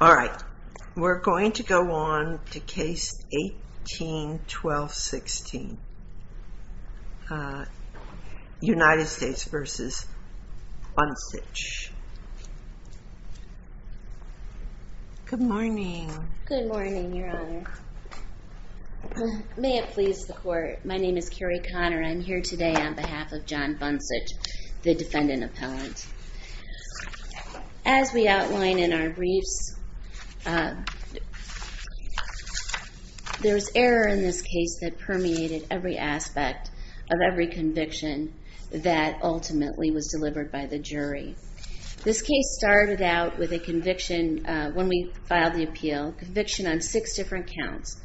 All right, we're going to go on to case 18-12-16. United States v. Buncich. Good morning. Good morning, your honor. May it please the court, my name is Carrie Connor. I'm here today on behalf of John Buncich, the defendant appellant. As we outline in our briefs, there's error in this case that permeated every aspect of every conviction that ultimately was delivered by the jury. This case started out with a conviction, when we filed the appeal, conviction on six different counts.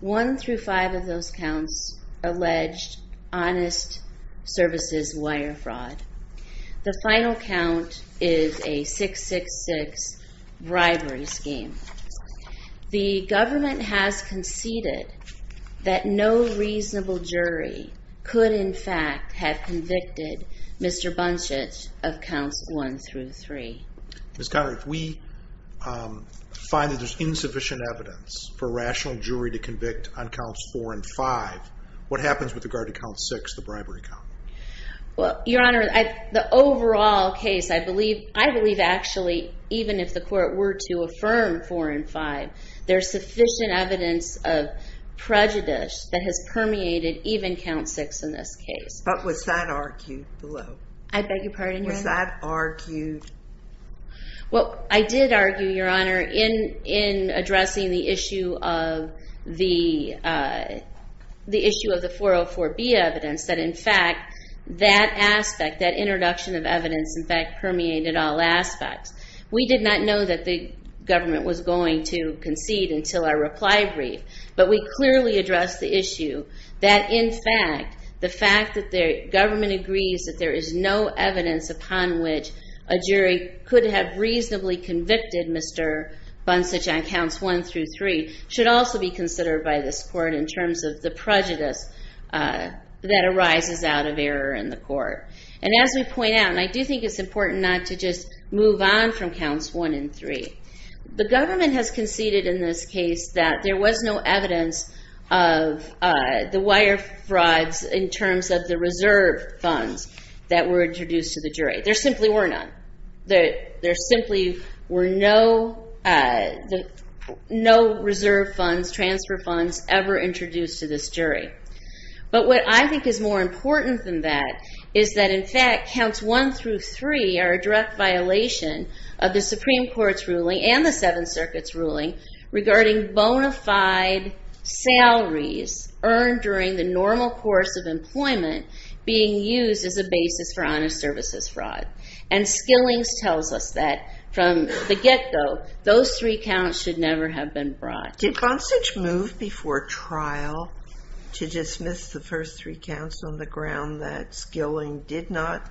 One through five of those counts, alleged honest services wire fraud. The final count is a 666 bribery scheme. The government has conceded that no reasonable jury could in fact have convicted Mr. Buncich of counts one through three. Ms. Connor, if we find that there's insufficient evidence for a rational jury to convict on counts four and five, what happens with regard to count six, the bribery count? Well, your honor, the overall case, I believe actually, even if the court were to affirm four and five, there's sufficient evidence of prejudice that has permeated even count six in this case. But was that argued below? I beg your pardon, your honor? Was that argued? Well, I did argue, your honor, in addressing the issue of the 404B evidence, that in fact, that aspect, that introduction of evidence, in fact, permeated all aspects. We did not know that the government was going to concede until our reply brief, but we clearly addressed the issue that in fact, the fact that the government agrees that there is no evidence upon which a jury could have reasonably convicted Mr. Buncich on counts one through three should also be considered by this court in terms of the prejudice that arises out of error in the court. And as we point out, and I do think it's important not to just move on from counts one and three, the government has conceded in this case that there was no evidence of the wire frauds in terms of the reserve funds that were introduced to the jury. There simply were none. There simply were no reserve funds, transfer funds ever introduced to this jury. But what I think is more important than that is that in fact, counts one through three are a direct violation of the Supreme Court's ruling and the Seventh Circuit's ruling regarding bona fide salaries earned during the normal course of employment being used as a basis for honest services fraud. And Skillings tells us that from the get-go, those three counts should never have been brought. Did Buncich move before trial to dismiss the first three counts on the ground that Skilling did not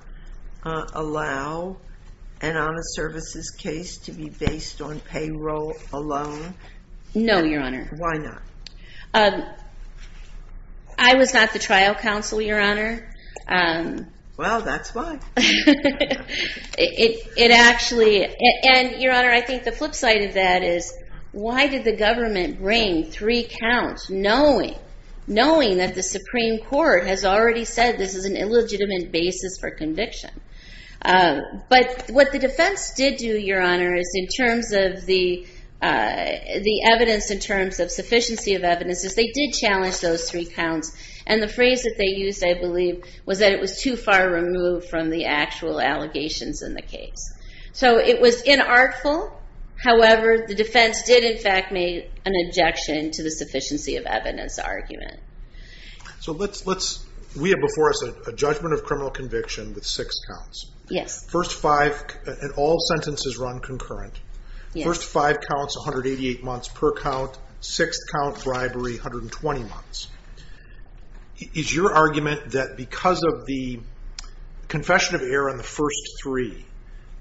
allow an honest services case to be based on payroll alone? No, Your Honor. Why not? I was not the trial counsel, Your Honor. Well, that's why. And Your Honor, I think the flip side of that is why did the government bring three counts knowing that the Supreme Court has already said this is an illegitimate basis for conviction? But what the defense did do, Your Honor, is in terms of the evidence, in terms of sufficiency of evidence, is they did challenge those three counts. And the phrase that they used, I believe, was that it was too far removed from the actual allegations in the case. So it was inartful. However, the defense did in fact make an objection to the sufficiency of evidence argument. So let's, we have before us a judgment of criminal conviction with six counts. Yes. First five, and all sentences run concurrent. First five counts, 188 months per count. Sixth count, bribery, 120 months. Is your argument that because of the confession of error on the first three,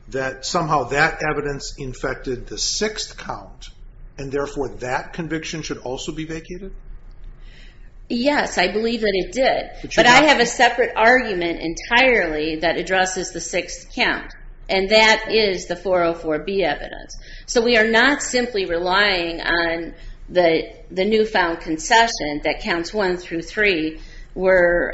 that somehow that evidence infected the sixth count, and therefore that conviction should also be vacated? Yes, I believe that it did, but I have a separate argument entirely that addresses the sixth count, and that is the 404B evidence. So we are not simply relying on the newfound concession that counts one through three were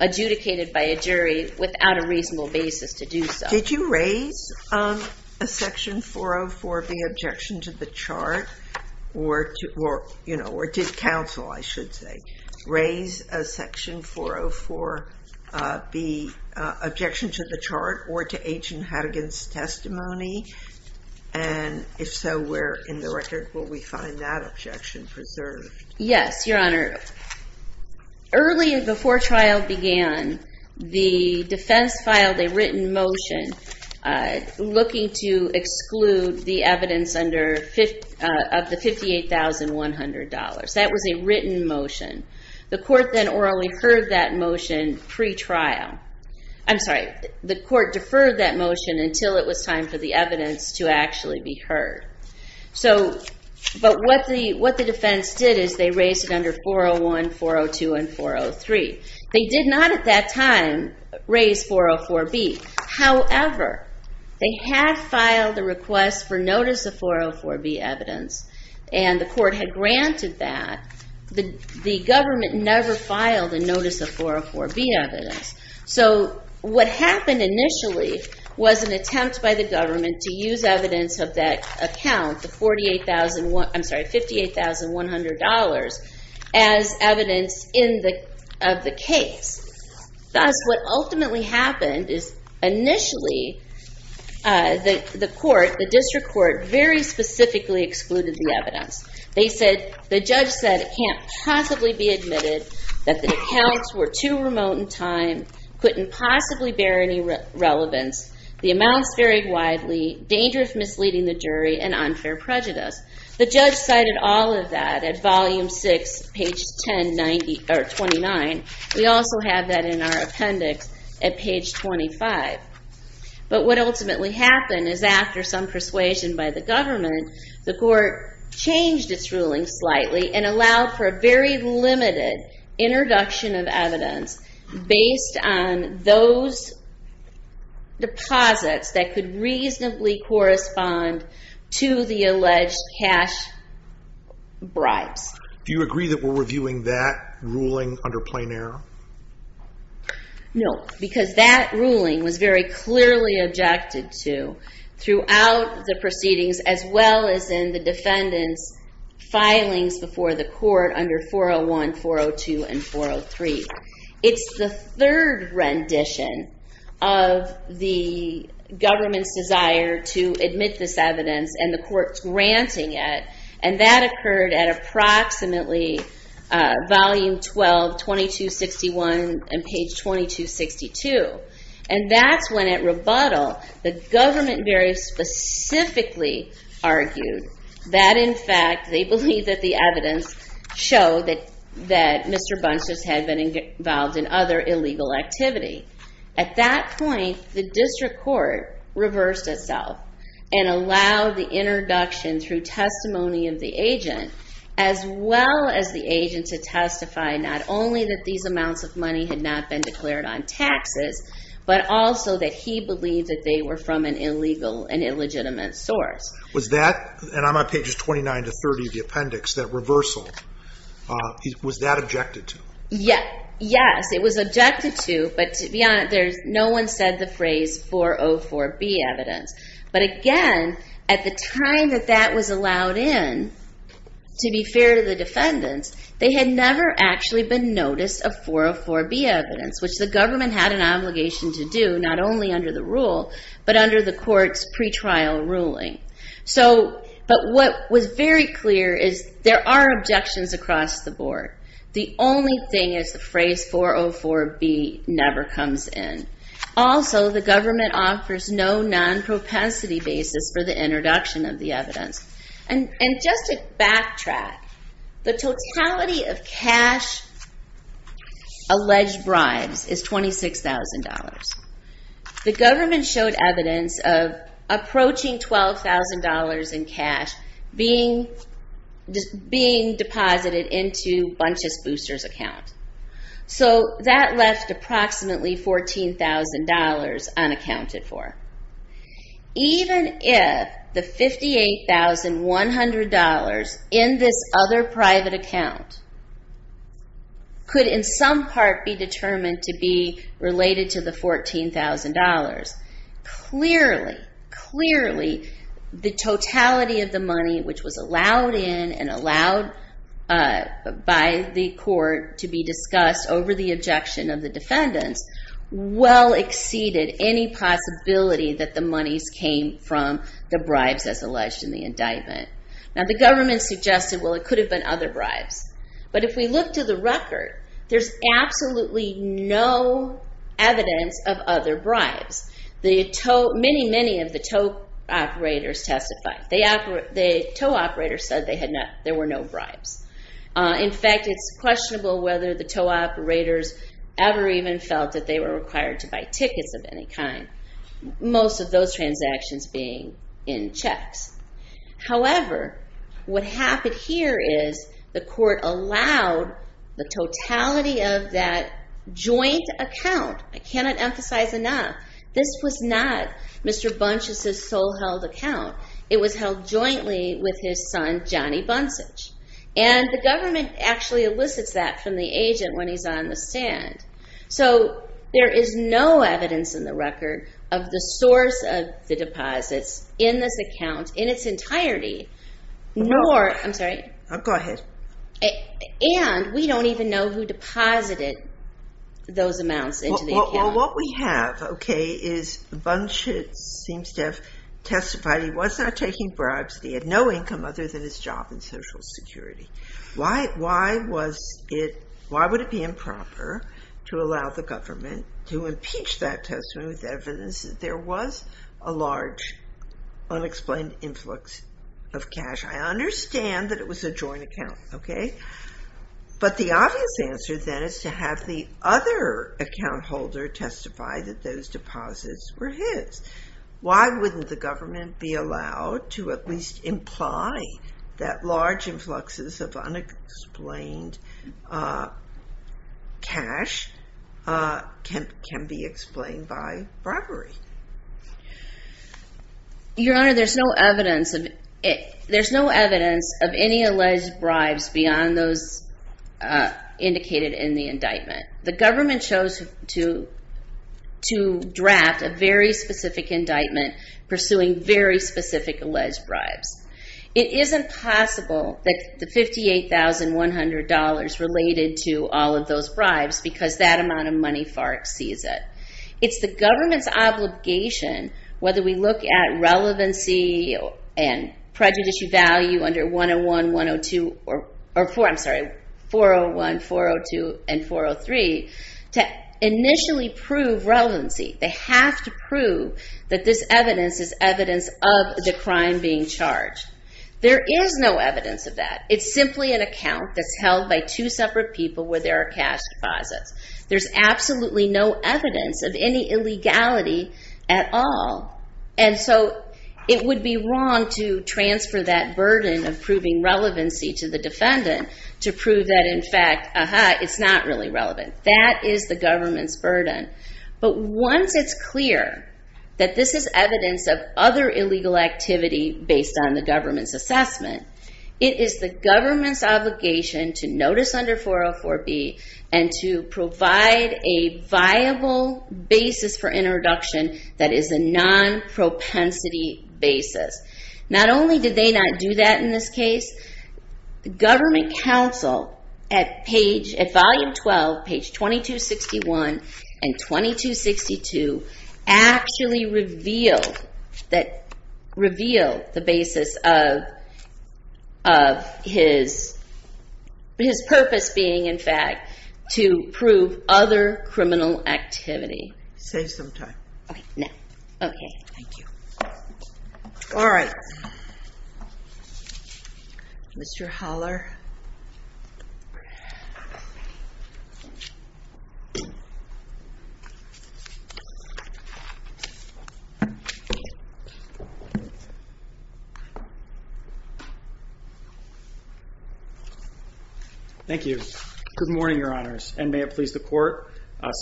adjudicated by a jury without a reasonable basis to do so. Did you raise a section 404B objection to the chart, or did counsel, I should say, raise a section 404B objection to the chart, or to Agent Hadigan's testimony? And if so, where in the record will we find that objection preserved? Yes, Your Honor. Early before trial began, the defense filed a written motion looking to exclude the evidence of the $58,100. That was a written motion. The court then orally heard that motion pre-trial. I'm sorry, the court deferred that motion until it was time for the evidence to actually be heard. But what the defense did is they raised it under 401, 402, and 403. They did not at that time raise 404B. However, they had filed a request for notice of 404B evidence, and the court had granted that. The government never filed a notice of 404B evidence. So what happened initially was an attempt by the government to use evidence of that account, the $58,100, as evidence of the case. Thus, what ultimately happened is initially the court, the district court, very specifically excluded the evidence. They said, the judge said, it can't possibly be admitted that the accounts were too remote in time, couldn't possibly bear any relevance, the amounts varied widely, danger of misleading the jury, and unfair prejudice. The judge cited all of that at Volume 6, page 1029. We also have that in our appendix at page 25. What ultimately happened is after some persuasion by the government, the court changed its ruling slightly and allowed for a very limited introduction of evidence based on those deposits that could reasonably correspond to the alleged cash bribes. Do you agree that we're reviewing that ruling under plain error? No, because that ruling was very clearly objected to throughout the proceedings, as well as in the defendant's filings before the court under 401, 402, and 403. It's the third rendition of the government's desire to admit this evidence, and the court's granting it, and that occurred at page 2261 and page 2262. That's when at rebuttal, the government very specifically argued that, in fact, they believe that the evidence showed that Mr. Bunches had been involved in other illegal activity. At that point, the district court reversed itself and allowed the introduction through testimony of the agent, as well as the agent to testify not only that these amounts of money had not been declared on taxes, but also that he believed that they were from an illegal and illegitimate source. Was that, and I'm on pages 29 to 30 of the appendix, that reversal, was that objected to? Yes, it was objected to, but to be honest, no one said the phrase 404B evidence. But again, at the time that that was allowed in, to be fair to the defendants, they had never actually been noticed a 404B evidence, which the government had an obligation to do, not only under the rule, but under the court's pretrial ruling. But what was very clear is there are objections across the board. The only thing is the phrase 404B never comes in. Also, the government offers no non-propensity basis for the introduction of the evidence. And just to backtrack, the totality of cash alleged bribes is $26,000. The government showed evidence of approaching $12,000 in cash being deposited into Bunches Booster's account. So that left approximately $14,000 unaccounted for. Even if the $58,100 in this other private account could in some part be determined to be related to the $14,000, clearly, clearly the totality of the money which was allowed in and discussed over the objection of the defendants well exceeded any possibility that the monies came from the bribes as alleged in the indictment. Now, the government suggested, well, it could have been other bribes. But if we look to the record, there's absolutely no evidence of other bribes. Many, many of the tow operators testified. The tow operators said there were no bribes. In fact, it's questionable whether the tow operators ever even felt that they were required to buy tickets of any kind, most of those transactions being in checks. However, what happened here is the court allowed the totality of that joint account. I cannot emphasize enough, this was not Mr. Bunches' sole held account. It was held jointly with his son, Johnny Bunchage. The government actually elicits that from the agent when he's on the stand. There is no evidence in the record of the source of the deposits in this account in its entirety, nor, I'm sorry, and we don't even know who deposited those amounts into the account. What we have is Bunches seems to have testified he was not taking bribes. He had no income other than his job in Social Security. Why would it be improper to allow the government to impeach that testimony with evidence that there was a large unexplained influx of cash? I understand that it was a joint account. But the obvious answer then is to have the other account holder testify that those deposits were his. Why wouldn't the government be allowed to at least imply that large influxes of unexplained cash can be explained by bribery? Your Honor, there's no evidence of any alleged bribes beyond those indicated in the indictment. The government chose to draft a very specific indictment pursuing very specific alleged bribes. It isn't possible that the $58,100 related to all of those bribes because that amount of money far exceeds it. It's the government's obligation, whether we look at relevancy and prejudicial value under 101, 102, or, I'm sorry, 401, 402, and 403, to initially prove relevancy. They have to prove that this evidence is evidence of the crime being charged. There is no evidence of that. It's simply an account that's held by two separate people where there are cash deposits. There's absolutely no evidence of any illegality at all. And so it would be wrong to transfer that burden of proving relevancy to the defendant to prove that, in fact, it's not really relevant. That is the government's burden. But once it's clear that this is evidence of other illegal activity based on the government's assessment, it is the government's obligation to notice under 404B and to provide a viable basis for introduction that is a non-propensity basis. Not only did they not do that in this case, the government counsel at page, at volume 12, page 2261 and 2262 actually revealed the basis of his purpose being, in fact, to prove other criminal activity. Say some time. No. Okay. Thank you. All right. Mr. Holler. Thank you. Good morning, Your Honors, and may it please the court.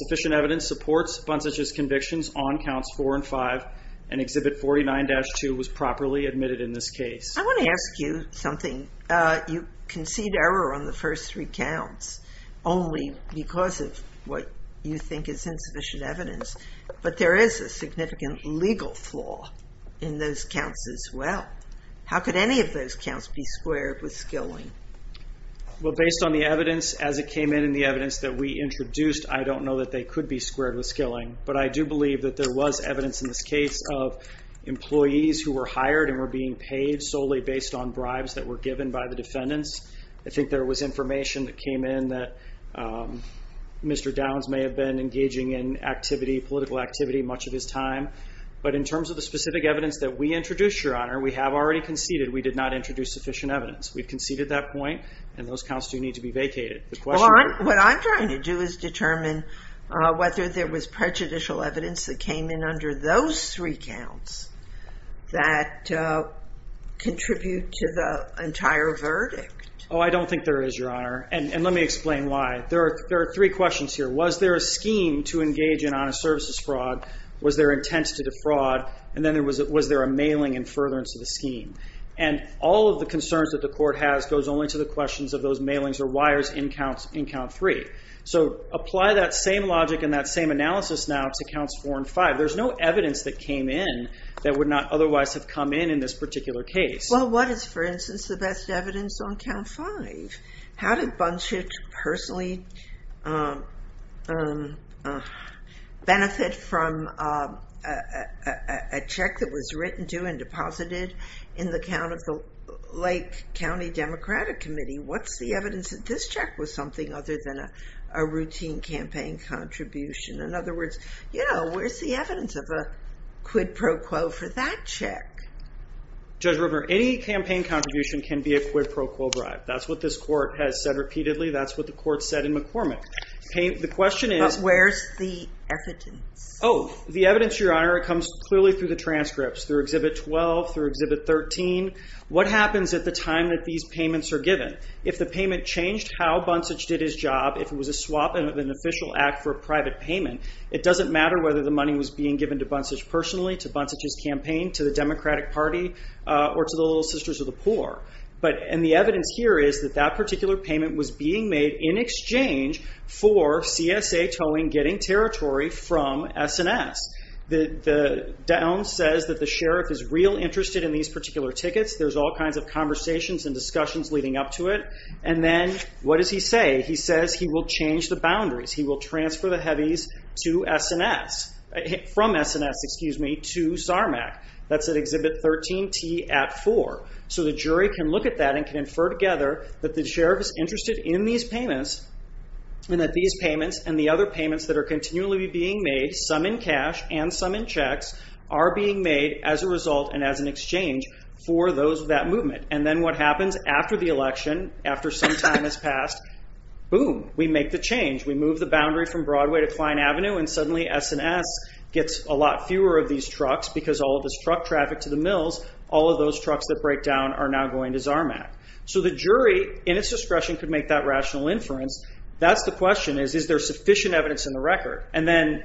Sufficient evidence supports Buntz's convictions on counts four and five, and Exhibit 49-2 was properly admitted in this case. I want to ask you something. You concede error on the first three counts only because of what you think is insufficient evidence, but there is a significant legal flaw in those counts as well. How could any of those counts be squared with skilling? Well, based on the evidence as it came in and the evidence that we introduced, I don't know that they could be squared with skilling, but I do believe that there was paid solely based on bribes that were given by the defendants. I think there was information that came in that Mr. Downs may have been engaging in activity, political activity, much of his time. But in terms of the specific evidence that we introduced, Your Honor, we have already conceded we did not introduce sufficient evidence. We've conceded that point, and those counts do need to be vacated. What I'm trying to do is determine whether there was prejudicial evidence that came in those three counts that contribute to the entire verdict. Oh, I don't think there is, Your Honor, and let me explain why. There are three questions here. Was there a scheme to engage in honest services fraud? Was there intent to defraud? And then was there a mailing and furtherance of the scheme? And all of the concerns that the court has goes only to the questions of those mailings or wires in count three. So apply that same logic and that same analysis now to counts four and five. There's no evidence that came in that would not otherwise have come in in this particular case. Well, what is, for instance, the best evidence on count five? How did Bunchich personally benefit from a check that was written to and deposited in the account of the Lake County Democratic Committee? What's the evidence that this check was something other than a routine campaign contribution? In other words, you know, where's the evidence of a quid pro quo for that check? Judge Rupner, any campaign contribution can be a quid pro quo bribe. That's what this court has said repeatedly. That's what the court said in McCormick. The question is... But where's the evidence? Oh, the evidence, Your Honor, it comes clearly through the transcripts, through Exhibit 12, through Exhibit 13. What happens at the time that these payments are given? If the payment changed how Bunchich did his job, if it was a swap of an official act for a private payment, it doesn't matter whether the money was being given to Bunchich personally, to Bunchich's campaign, to the Democratic Party, or to the Little Sisters of the Poor. And the evidence here is that that particular payment was being made in exchange for CSA towing getting territory from S&S. The down says that the sheriff is real interested in these particular tickets. There's all kinds of conversations and discussions leading up to it. And then what does he say? He says he will change the boundaries. He will transfer the heavies to S&S, from S&S, excuse me, to SARMAC. That's at Exhibit 13T at 4. So the jury can look at that and can infer together that the sheriff is interested in these payments and that these payments and the other payments that are continually being made, some in cash and some in checks, are being made as a result and as an exchange for those of that movement. And then what happens after the election, after some time has passed? Boom. We make the change. We move the boundary from Broadway to Kline Avenue, and suddenly S&S gets a lot fewer of these trucks because all of this truck traffic to the mills, all of those trucks that break down are now going to SARMAC. So the jury, in its discretion, could make that rational inference. That's the question is, is there sufficient evidence in the record? And then,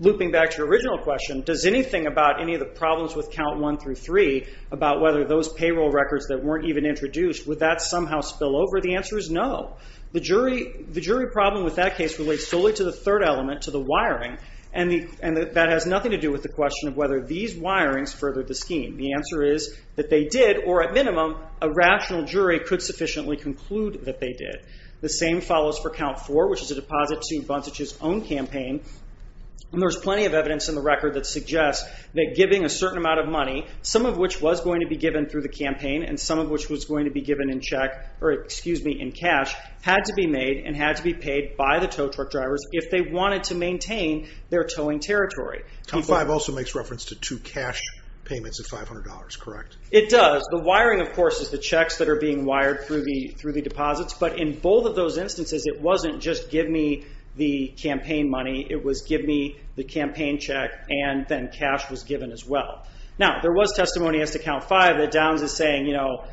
looping back to your original question, does anything about any of the problems with Count 1 through 3 about whether those payroll records that weren't even introduced, would that somehow spill over? The answer is no. The jury problem with that case relates solely to the third element, to the wiring, and that has nothing to do with the question of whether these wirings furthered the scheme. The answer is that they did, or at minimum, a rational jury could sufficiently conclude that they did. The same follows for Count 4, which is a deposit to Buntage's own campaign, and there's plenty of evidence in the record that suggests that giving a certain amount of money, some of which was going to be given through the campaign and some of which was going to be or, excuse me, in cash, had to be made and had to be paid by the tow truck drivers if they wanted to maintain their towing territory. Count 5 also makes reference to two cash payments of $500, correct? It does. The wiring, of course, is the checks that are being wired through the deposits, but in both of those instances, it wasn't just give me the campaign money, it was give me the campaign check and then cash was given as well. Now, there was testimony as to Count 5 that Downs is saying, you know,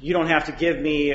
you don't have to give me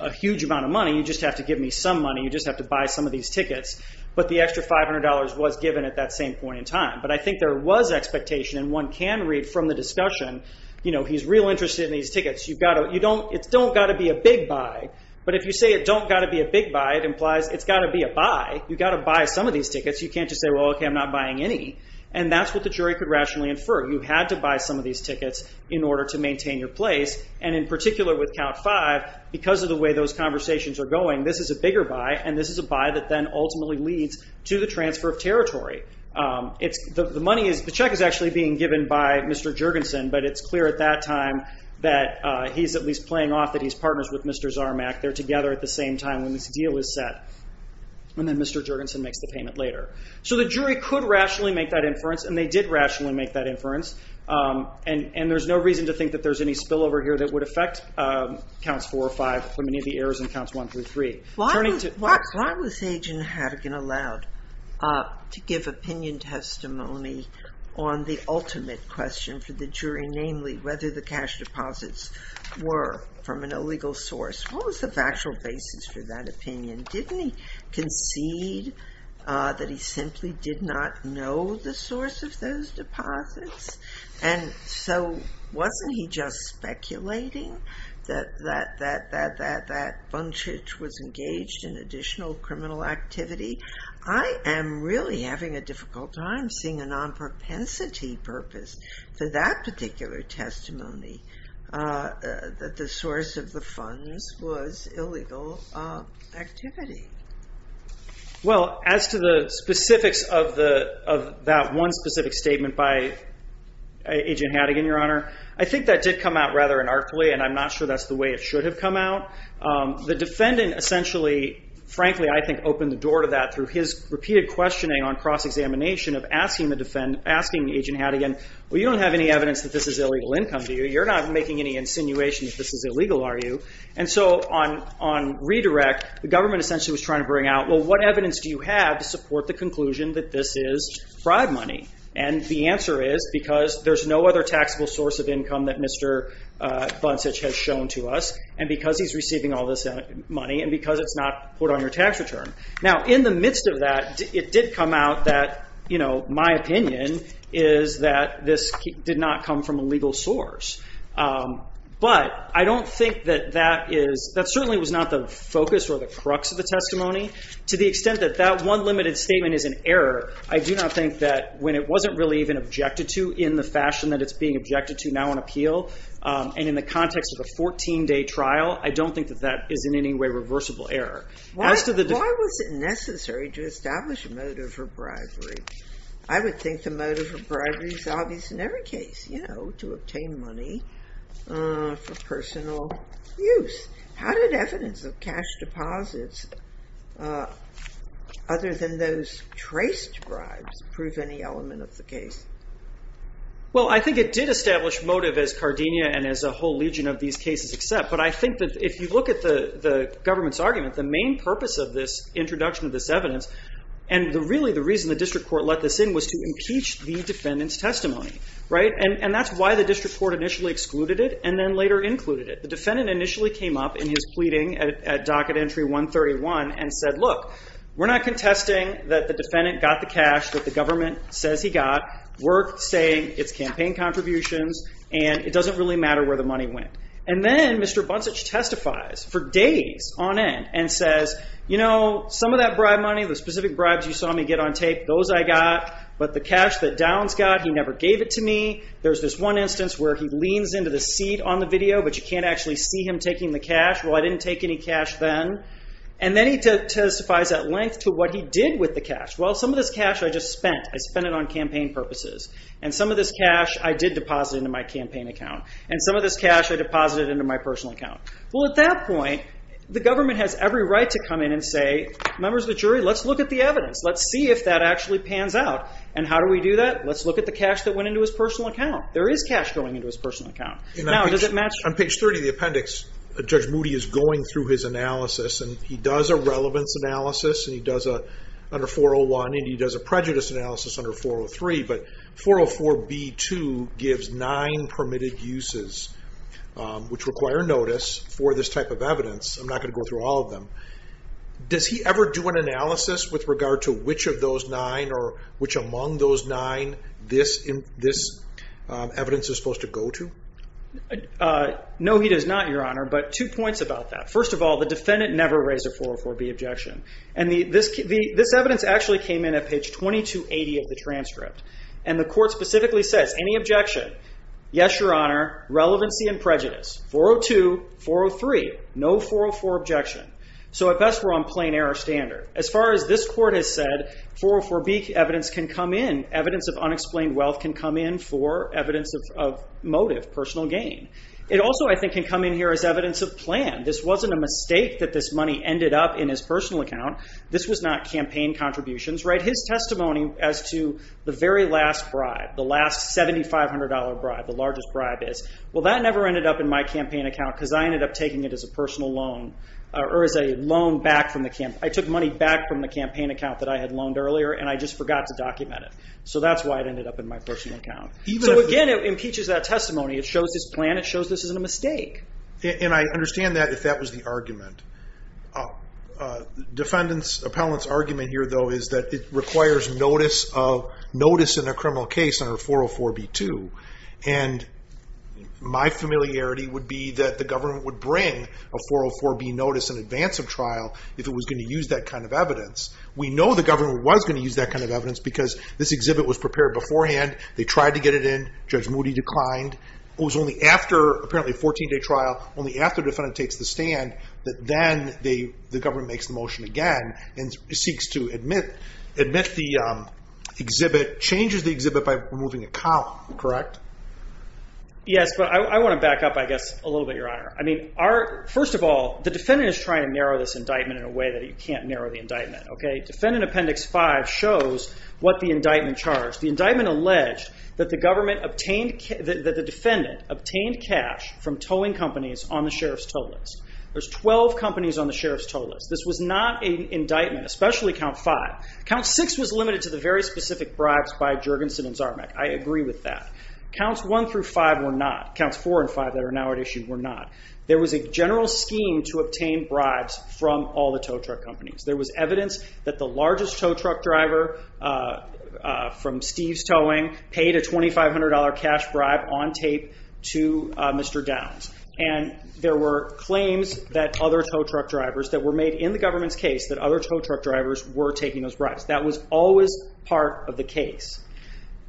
a huge amount of money, you just have to give me some money, you just have to buy some of these tickets, but the extra $500 was given at that same point in time, but I think there was expectation and one can read from the discussion, you know, he's real interested in these tickets, it's don't got to be a big buy, but if you say it don't got to be a big buy, it implies it's got to be a buy. You got to buy some of these tickets, you can't just say, well, okay, I'm not buying any, and that's what the jury could rationally infer. You had to buy some of these tickets in order to maintain your place, and in particular with Count 5, because of the way those conversations are going, this is a bigger buy and this is a buy that then ultimately leads to the transfer of territory. The money is, the check is actually being given by Mr. Jurgensen, but it's clear at that time that he's at least playing off that he's partners with Mr. Zarmack, they're together at the same time when this deal is set, and then Mr. Jurgensen makes the payment later. The jury could rationally make that inference, and they did rationally make that inference, and there's no reason to think that there's any spillover here that would affect Counts 4 or 5, or many of the errors in Counts 1 through 3. Why was Agent Hadigan allowed to give opinion testimony on the ultimate question for the jury, namely whether the cash deposits were from an illegal source? What was the factual basis for that opinion? Didn't he concede that he simply did not know the source of those deposits, and so wasn't he just speculating that that bunchage was engaged in additional criminal activity? I am really having a difficult time seeing a non-propensity purpose for that particular testimony, that the source of the funds was illegal activity. Well, as to the specifics of that one specific statement by Agent Hadigan, Your Honor, I think that did come out rather anarchically, and I'm not sure that's the way it should have come out. The defendant essentially, frankly, I think opened the door to that through his repeated questioning on cross-examination of asking Agent Hadigan, well, you don't have any evidence that this is illegal income to you. You're not making any insinuation that this is illegal, are you? And so on redirect, the government essentially was trying to bring out, well, what evidence do you have to support the conclusion that this is fraud money? And the answer is, because there's no other taxable source of income that Mr. Bunsich has shown to us, and because he's receiving all this money, and because it's not put on your tax return. Now, in the midst of that, it did come out that my opinion is that this did not come from a legal source. But I don't think that that is, that certainly was not the focus or the crux of the testimony. To the extent that that one limited statement is an error, I do not think that when it wasn't really even objected to in the fashion that it's being objected to now on appeal, and in the context of a 14-day trial, I don't think that that is in any way reversible error. As to the- Why was it necessary to establish a motive for bribery? I would think the motive for bribery is obvious in every case. To obtain money for personal use. How did evidence of cash deposits, other than those traced bribes, prove any element of the case? Well, I think it did establish motive as Cardenia and as a whole legion of these cases except, but I think that if you look at the government's argument, the main purpose of this introduction of this evidence, and really the reason the district court let this in was to impeach the defendant's testimony. That's why the district court initially excluded it and then later included it. The defendant initially came up in his pleading at docket entry 131 and said, look, we're not contesting that the defendant got the cash that the government says he got, we're saying it's campaign contributions, and it doesn't really matter where the money went. And then Mr. Buntzich testifies for days on end and says, some of that bribe money, the specific bribes you saw me get on tape, those I got, but the cash that Downs got, he never gave it to me. There's this one instance where he leans into the seat on the video, but you can't actually see him taking the cash. Well, I didn't take any cash then. And then he testifies at length to what he did with the cash. Well, some of this cash I just spent. I spent it on campaign purposes. And some of this cash I did deposit into my campaign account. And some of this cash I deposited into my personal account. Well, at that point, the government has every right to come in and say, members of the jury, let's look at the evidence. Let's see if that actually pans out. And how do we do that? Let's look at the cash that went into his personal account. There is cash going into his personal account. Now, does it match? On page 30 of the appendix, Judge Moody is going through his analysis. And he does a relevance analysis. And he does under 401. And he does a prejudice analysis under 403. But 404b2 gives nine permitted uses, which require notice for this type of evidence. I'm not going to go through all of them. Does he ever do an analysis with regard to which of those nine, or which among those nine, this evidence is supposed to go to? No, he does not, Your Honor. But two points about that. First of all, the defendant never raised a 404b objection. And this evidence actually came in at page 2280 of the transcript. And the court specifically says, any objection? Yes, Your Honor. Relevancy and prejudice. 402, 403. No 404 objection. So at best, we're on plain error standard. As far as this court has said, 404b evidence can come in. Evidence of unexplained wealth can come in for evidence of motive, personal gain. It also, I think, can come in here as evidence of plan. This wasn't a mistake that this money ended up in his personal account. This was not campaign contributions, right? His testimony as to the very last bribe, the last $7,500 bribe, the largest bribe is. Well, that never ended up in my campaign account, because I ended up taking it as a personal loan, or as a loan back from the campaign. I took money back from the campaign account that I had loaned earlier, and I just forgot to document it. So that's why it ended up in my personal account. So again, it impeaches that testimony. It shows this plan. It shows this isn't a mistake. And I understand that, if that was the argument. Defendant's, appellant's argument here, though, is that it requires notice of, notice in a criminal case under 404b-2. And my familiarity would be that the government would bring a 404b notice in advance of trial, if it was going to use that kind of evidence. We know the government was going to use that kind of evidence, because this exhibit was prepared beforehand. They tried to get it in. Judge Moody declined. It was only after, apparently, a 14-day trial, only after the defendant takes the stand, that then the government makes the motion again, and seeks to admit the exhibit, changes the exhibit by removing a column, correct? Yes, but I want to back up, I guess, a little bit, Your Honor. First of all, the defendant is trying to narrow this indictment in a way that he can't narrow the indictment, okay? Defendant Appendix 5 shows what the indictment charged. The indictment alleged that the government obtained, that the defendant obtained cash from towing companies on the sheriff's tow list. There's 12 companies on the sheriff's tow list. This was not an indictment, especially Count 5. Count 6 was limited to the very specific bribes by Jergensen and Zarmack. I agree with that. Counts 1 through 5 were not. Counts 4 and 5 that are now at issue were not. There was a general scheme to obtain bribes from all the tow truck companies. There was evidence that the largest tow truck driver from Steve's Towing paid a $2,500 cash bribe on tape to Mr. Downs. There were claims that other tow truck drivers that were made in the government's case, that other tow truck drivers were taking those bribes. That was always part of the case.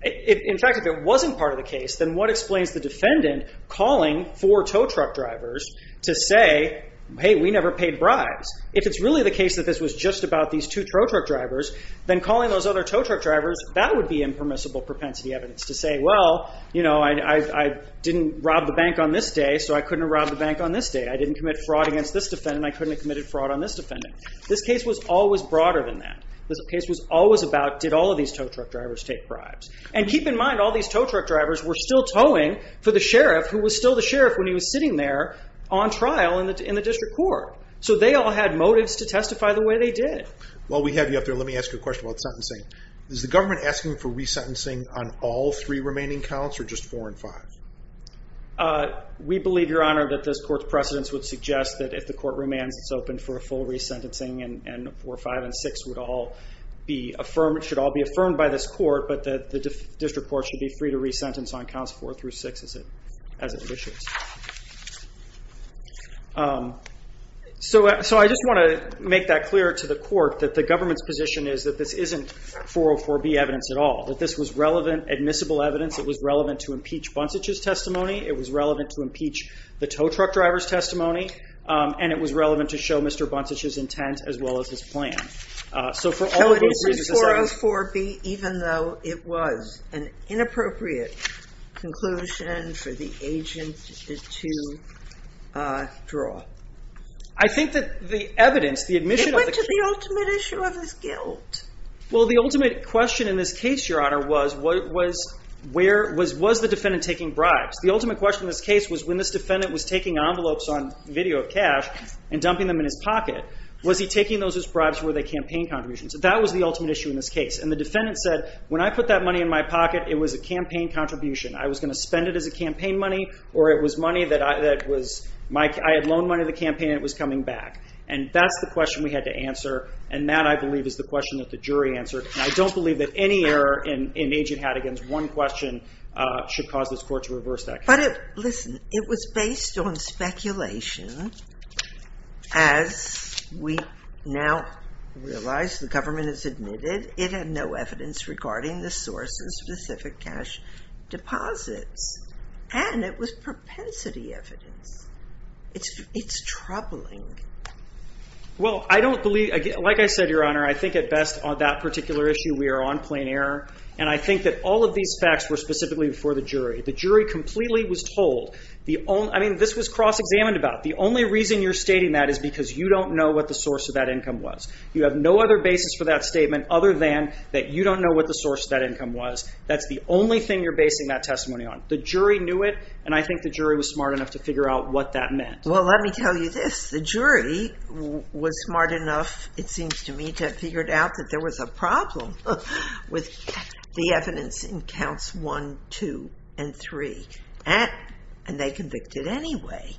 In fact, if it wasn't part of the case, then what explains the defendant calling four tow truck drivers to say, hey, we never paid bribes? If it's really the case that this was just about these two tow truck drivers, then calling those other tow truck drivers, that would be impermissible propensity evidence to say, well, you know, I didn't rob the bank on this day, so I couldn't rob the bank on this day. I didn't commit fraud against this defendant. I couldn't have committed fraud on this defendant. This case was always broader than that. This case was always about, did all of these tow truck drivers take bribes? And keep in mind, all these tow truck drivers were still towing for the sheriff, who was still the sheriff when he was sitting there on trial in the district court. So they all had motives to testify the way they did. While we have you up there, let me ask you a question about sentencing. Is the government asking for resentencing on all three remaining counts, or just four and five? We believe, Your Honor, that this court's precedence would suggest that if the court remands, it's open for a full resentencing, and four, five, and six would all be affirmed, should all be affirmed by this court, but that the district court should be free to resentence on counts four through six as it wishes. So I just want to make that clear to the court that the government's position is that this isn't 404B evidence at all. That this was relevant, admissible evidence. It was relevant to impeach Buntzich's testimony. It was relevant to impeach the tow truck driver's testimony. And it was relevant to show Mr. Buntzich's intent, as well as his plan. So for all of those reasons, I would say- So it isn't 404B, even though it was an inappropriate conclusion for the agent to draw? I think that the evidence, the admission of the case- It went to the ultimate issue of his guilt. Well, the ultimate question in this case, Your Honor, was, was the defendant taking bribes? The ultimate question in this case was when this defendant was taking envelopes on video of cash and dumping them in his pocket, was he taking those as bribes or were they campaign contributions? That was the ultimate issue in this case. And the defendant said, when I put that money in my pocket, it was a campaign contribution. I was going to spend it as a campaign money, or it was money that I had loaned money to the campaign and it was coming back. And that's the question we had to answer. And that, I believe, is the question that the jury answered. And I don't believe that any error in Agent Hadigan's one question should cause this court to reverse that case. Listen, it was based on speculation. As we now realize, the government has admitted, it had no evidence regarding the source of specific cash deposits. And it was propensity evidence. It's troubling. Well, I don't believe, like I said, Your Honor, I think at best on that particular issue, we are on plain error. And I think that all of these facts were specifically for the jury. The jury completely was told. I mean, this was cross-examined about. The only reason you're stating that is because you don't know what the source of that income was. You have no other basis for that statement other than that you don't know what the source of that income was. That's the only thing you're basing that testimony on. The jury knew it. And I think the jury was smart enough to figure out what that meant. Well, let me tell you this. The jury was smart enough, it seems to me, to have figured out that there was a problem with the evidence in counts one, two, and three. And they convicted anyway.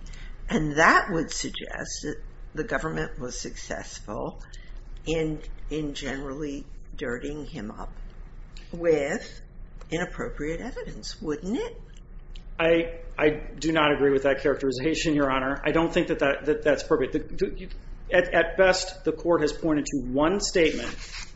And that would suggest that the government was successful in generally dirtying him up with inappropriate evidence, wouldn't it? I do not agree with that characterization, Your Honor. I don't think that that's appropriate. At best, the court has pointed to one statement,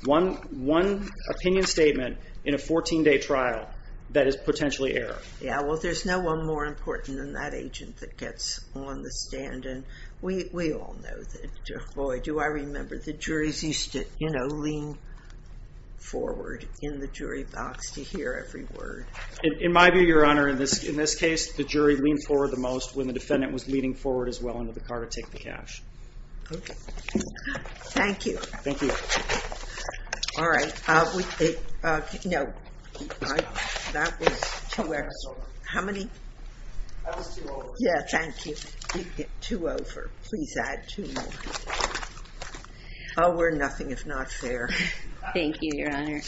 one opinion statement in a 14-day trial that is potentially error. Yeah, well, there's no one more important than that agent that gets on the stand. And we all know that. Boy, do I remember the juries used to, you know, lean forward in the jury box to hear every word. In my view, Your Honor, in this case, the jury leaned forward the most when the defendant was leaning forward as well into the car to take the cash. Okay. Thank you. Thank you. All right. No. That was two. How many? That was two over. Yeah, thank you. Two over. Please add two more. Oh, we're nothing if not fair. Thank you, Your Honor.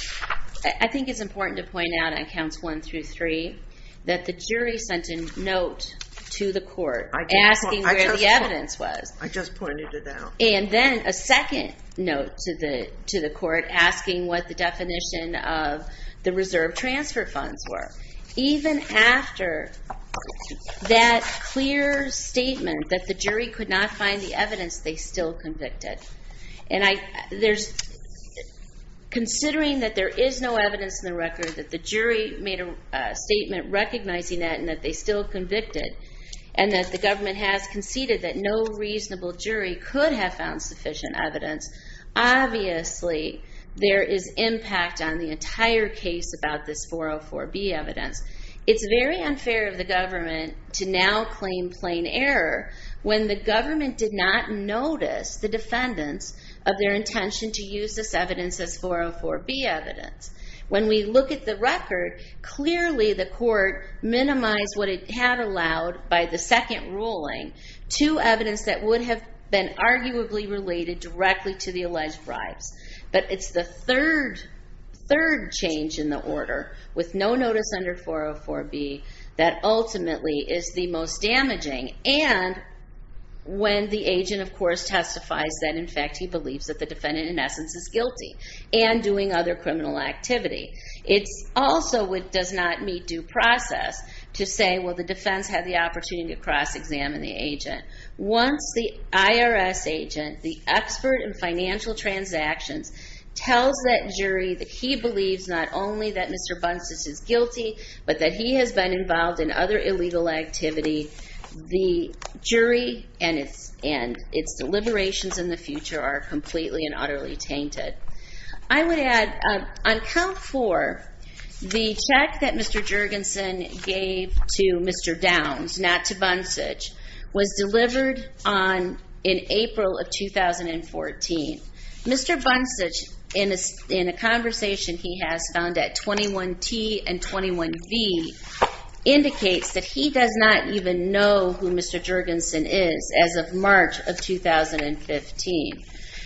I think it's important to point out in counts one through three that the jury sent a note to the court asking where the evidence was. I just pointed it out. And then a second note to the court asking what the definition of the reserve transfer funds were. Even after that clear statement that the jury could not find the evidence, they still convicted. And considering that there is no evidence in the record, that the jury made a statement recognizing that and that they still convicted, and that the government has conceded that no reasonable jury could have found sufficient evidence, obviously, there is impact on the entire case about this 404B evidence. It's very unfair of the government to now claim plain error when the government did not notice the defendants of their intention to use this evidence as 404B evidence. When we look at the record, clearly, the court minimized what it had allowed by the second ruling to evidence that would have been arguably related directly to the alleged bribes. But it's the third change in the order with no notice under 404B that ultimately is the most damaging. And when the agent, of course, testifies that, in fact, he believes that the defendant, in essence, is guilty and doing other criminal activity, it's also what does not meet due process to say, well, the defense had the opportunity to cross-examine the agent. Once the IRS agent, the expert in financial transactions, tells that jury that he believes not only that Mr. Bunches is guilty, but that he has been involved in other illegal activity, the jury and its deliberations in the future are completely and utterly tainted. I would add, on count four, the check that Mr. Jergensen gave to Mr. Downs, not to Bunches, was delivered in April of 2014. Mr. Bunches, in a conversation he has found at 21T and 21V, indicates that he does not even know who Mr. Jergensen is as of March of 2015.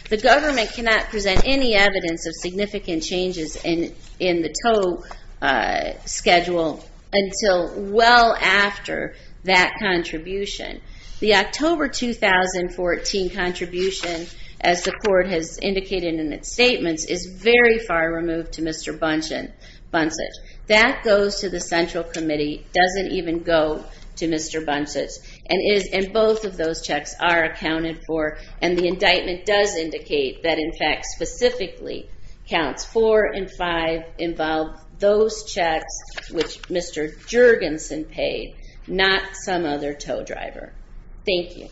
The government cannot present any evidence of significant changes in the TOE schedule until well after that contribution. The October 2014 contribution, as the court has indicated in its statements, is very far removed to Mr. Bunches. That goes to the Central Committee, doesn't even go to Mr. Bunches, and both of those checks are accounted for and the indictment does indicate that, in fact, specifically counts four and five involve those checks, which Mr. Jergensen paid, not some other TOE driver. Thank you.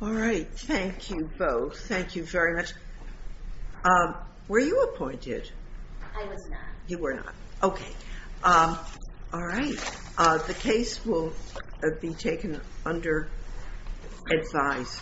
All right, thank you both. Thank you very much. Were you appointed? I was not. You were not. Okay. All right. The case will be taken under advice.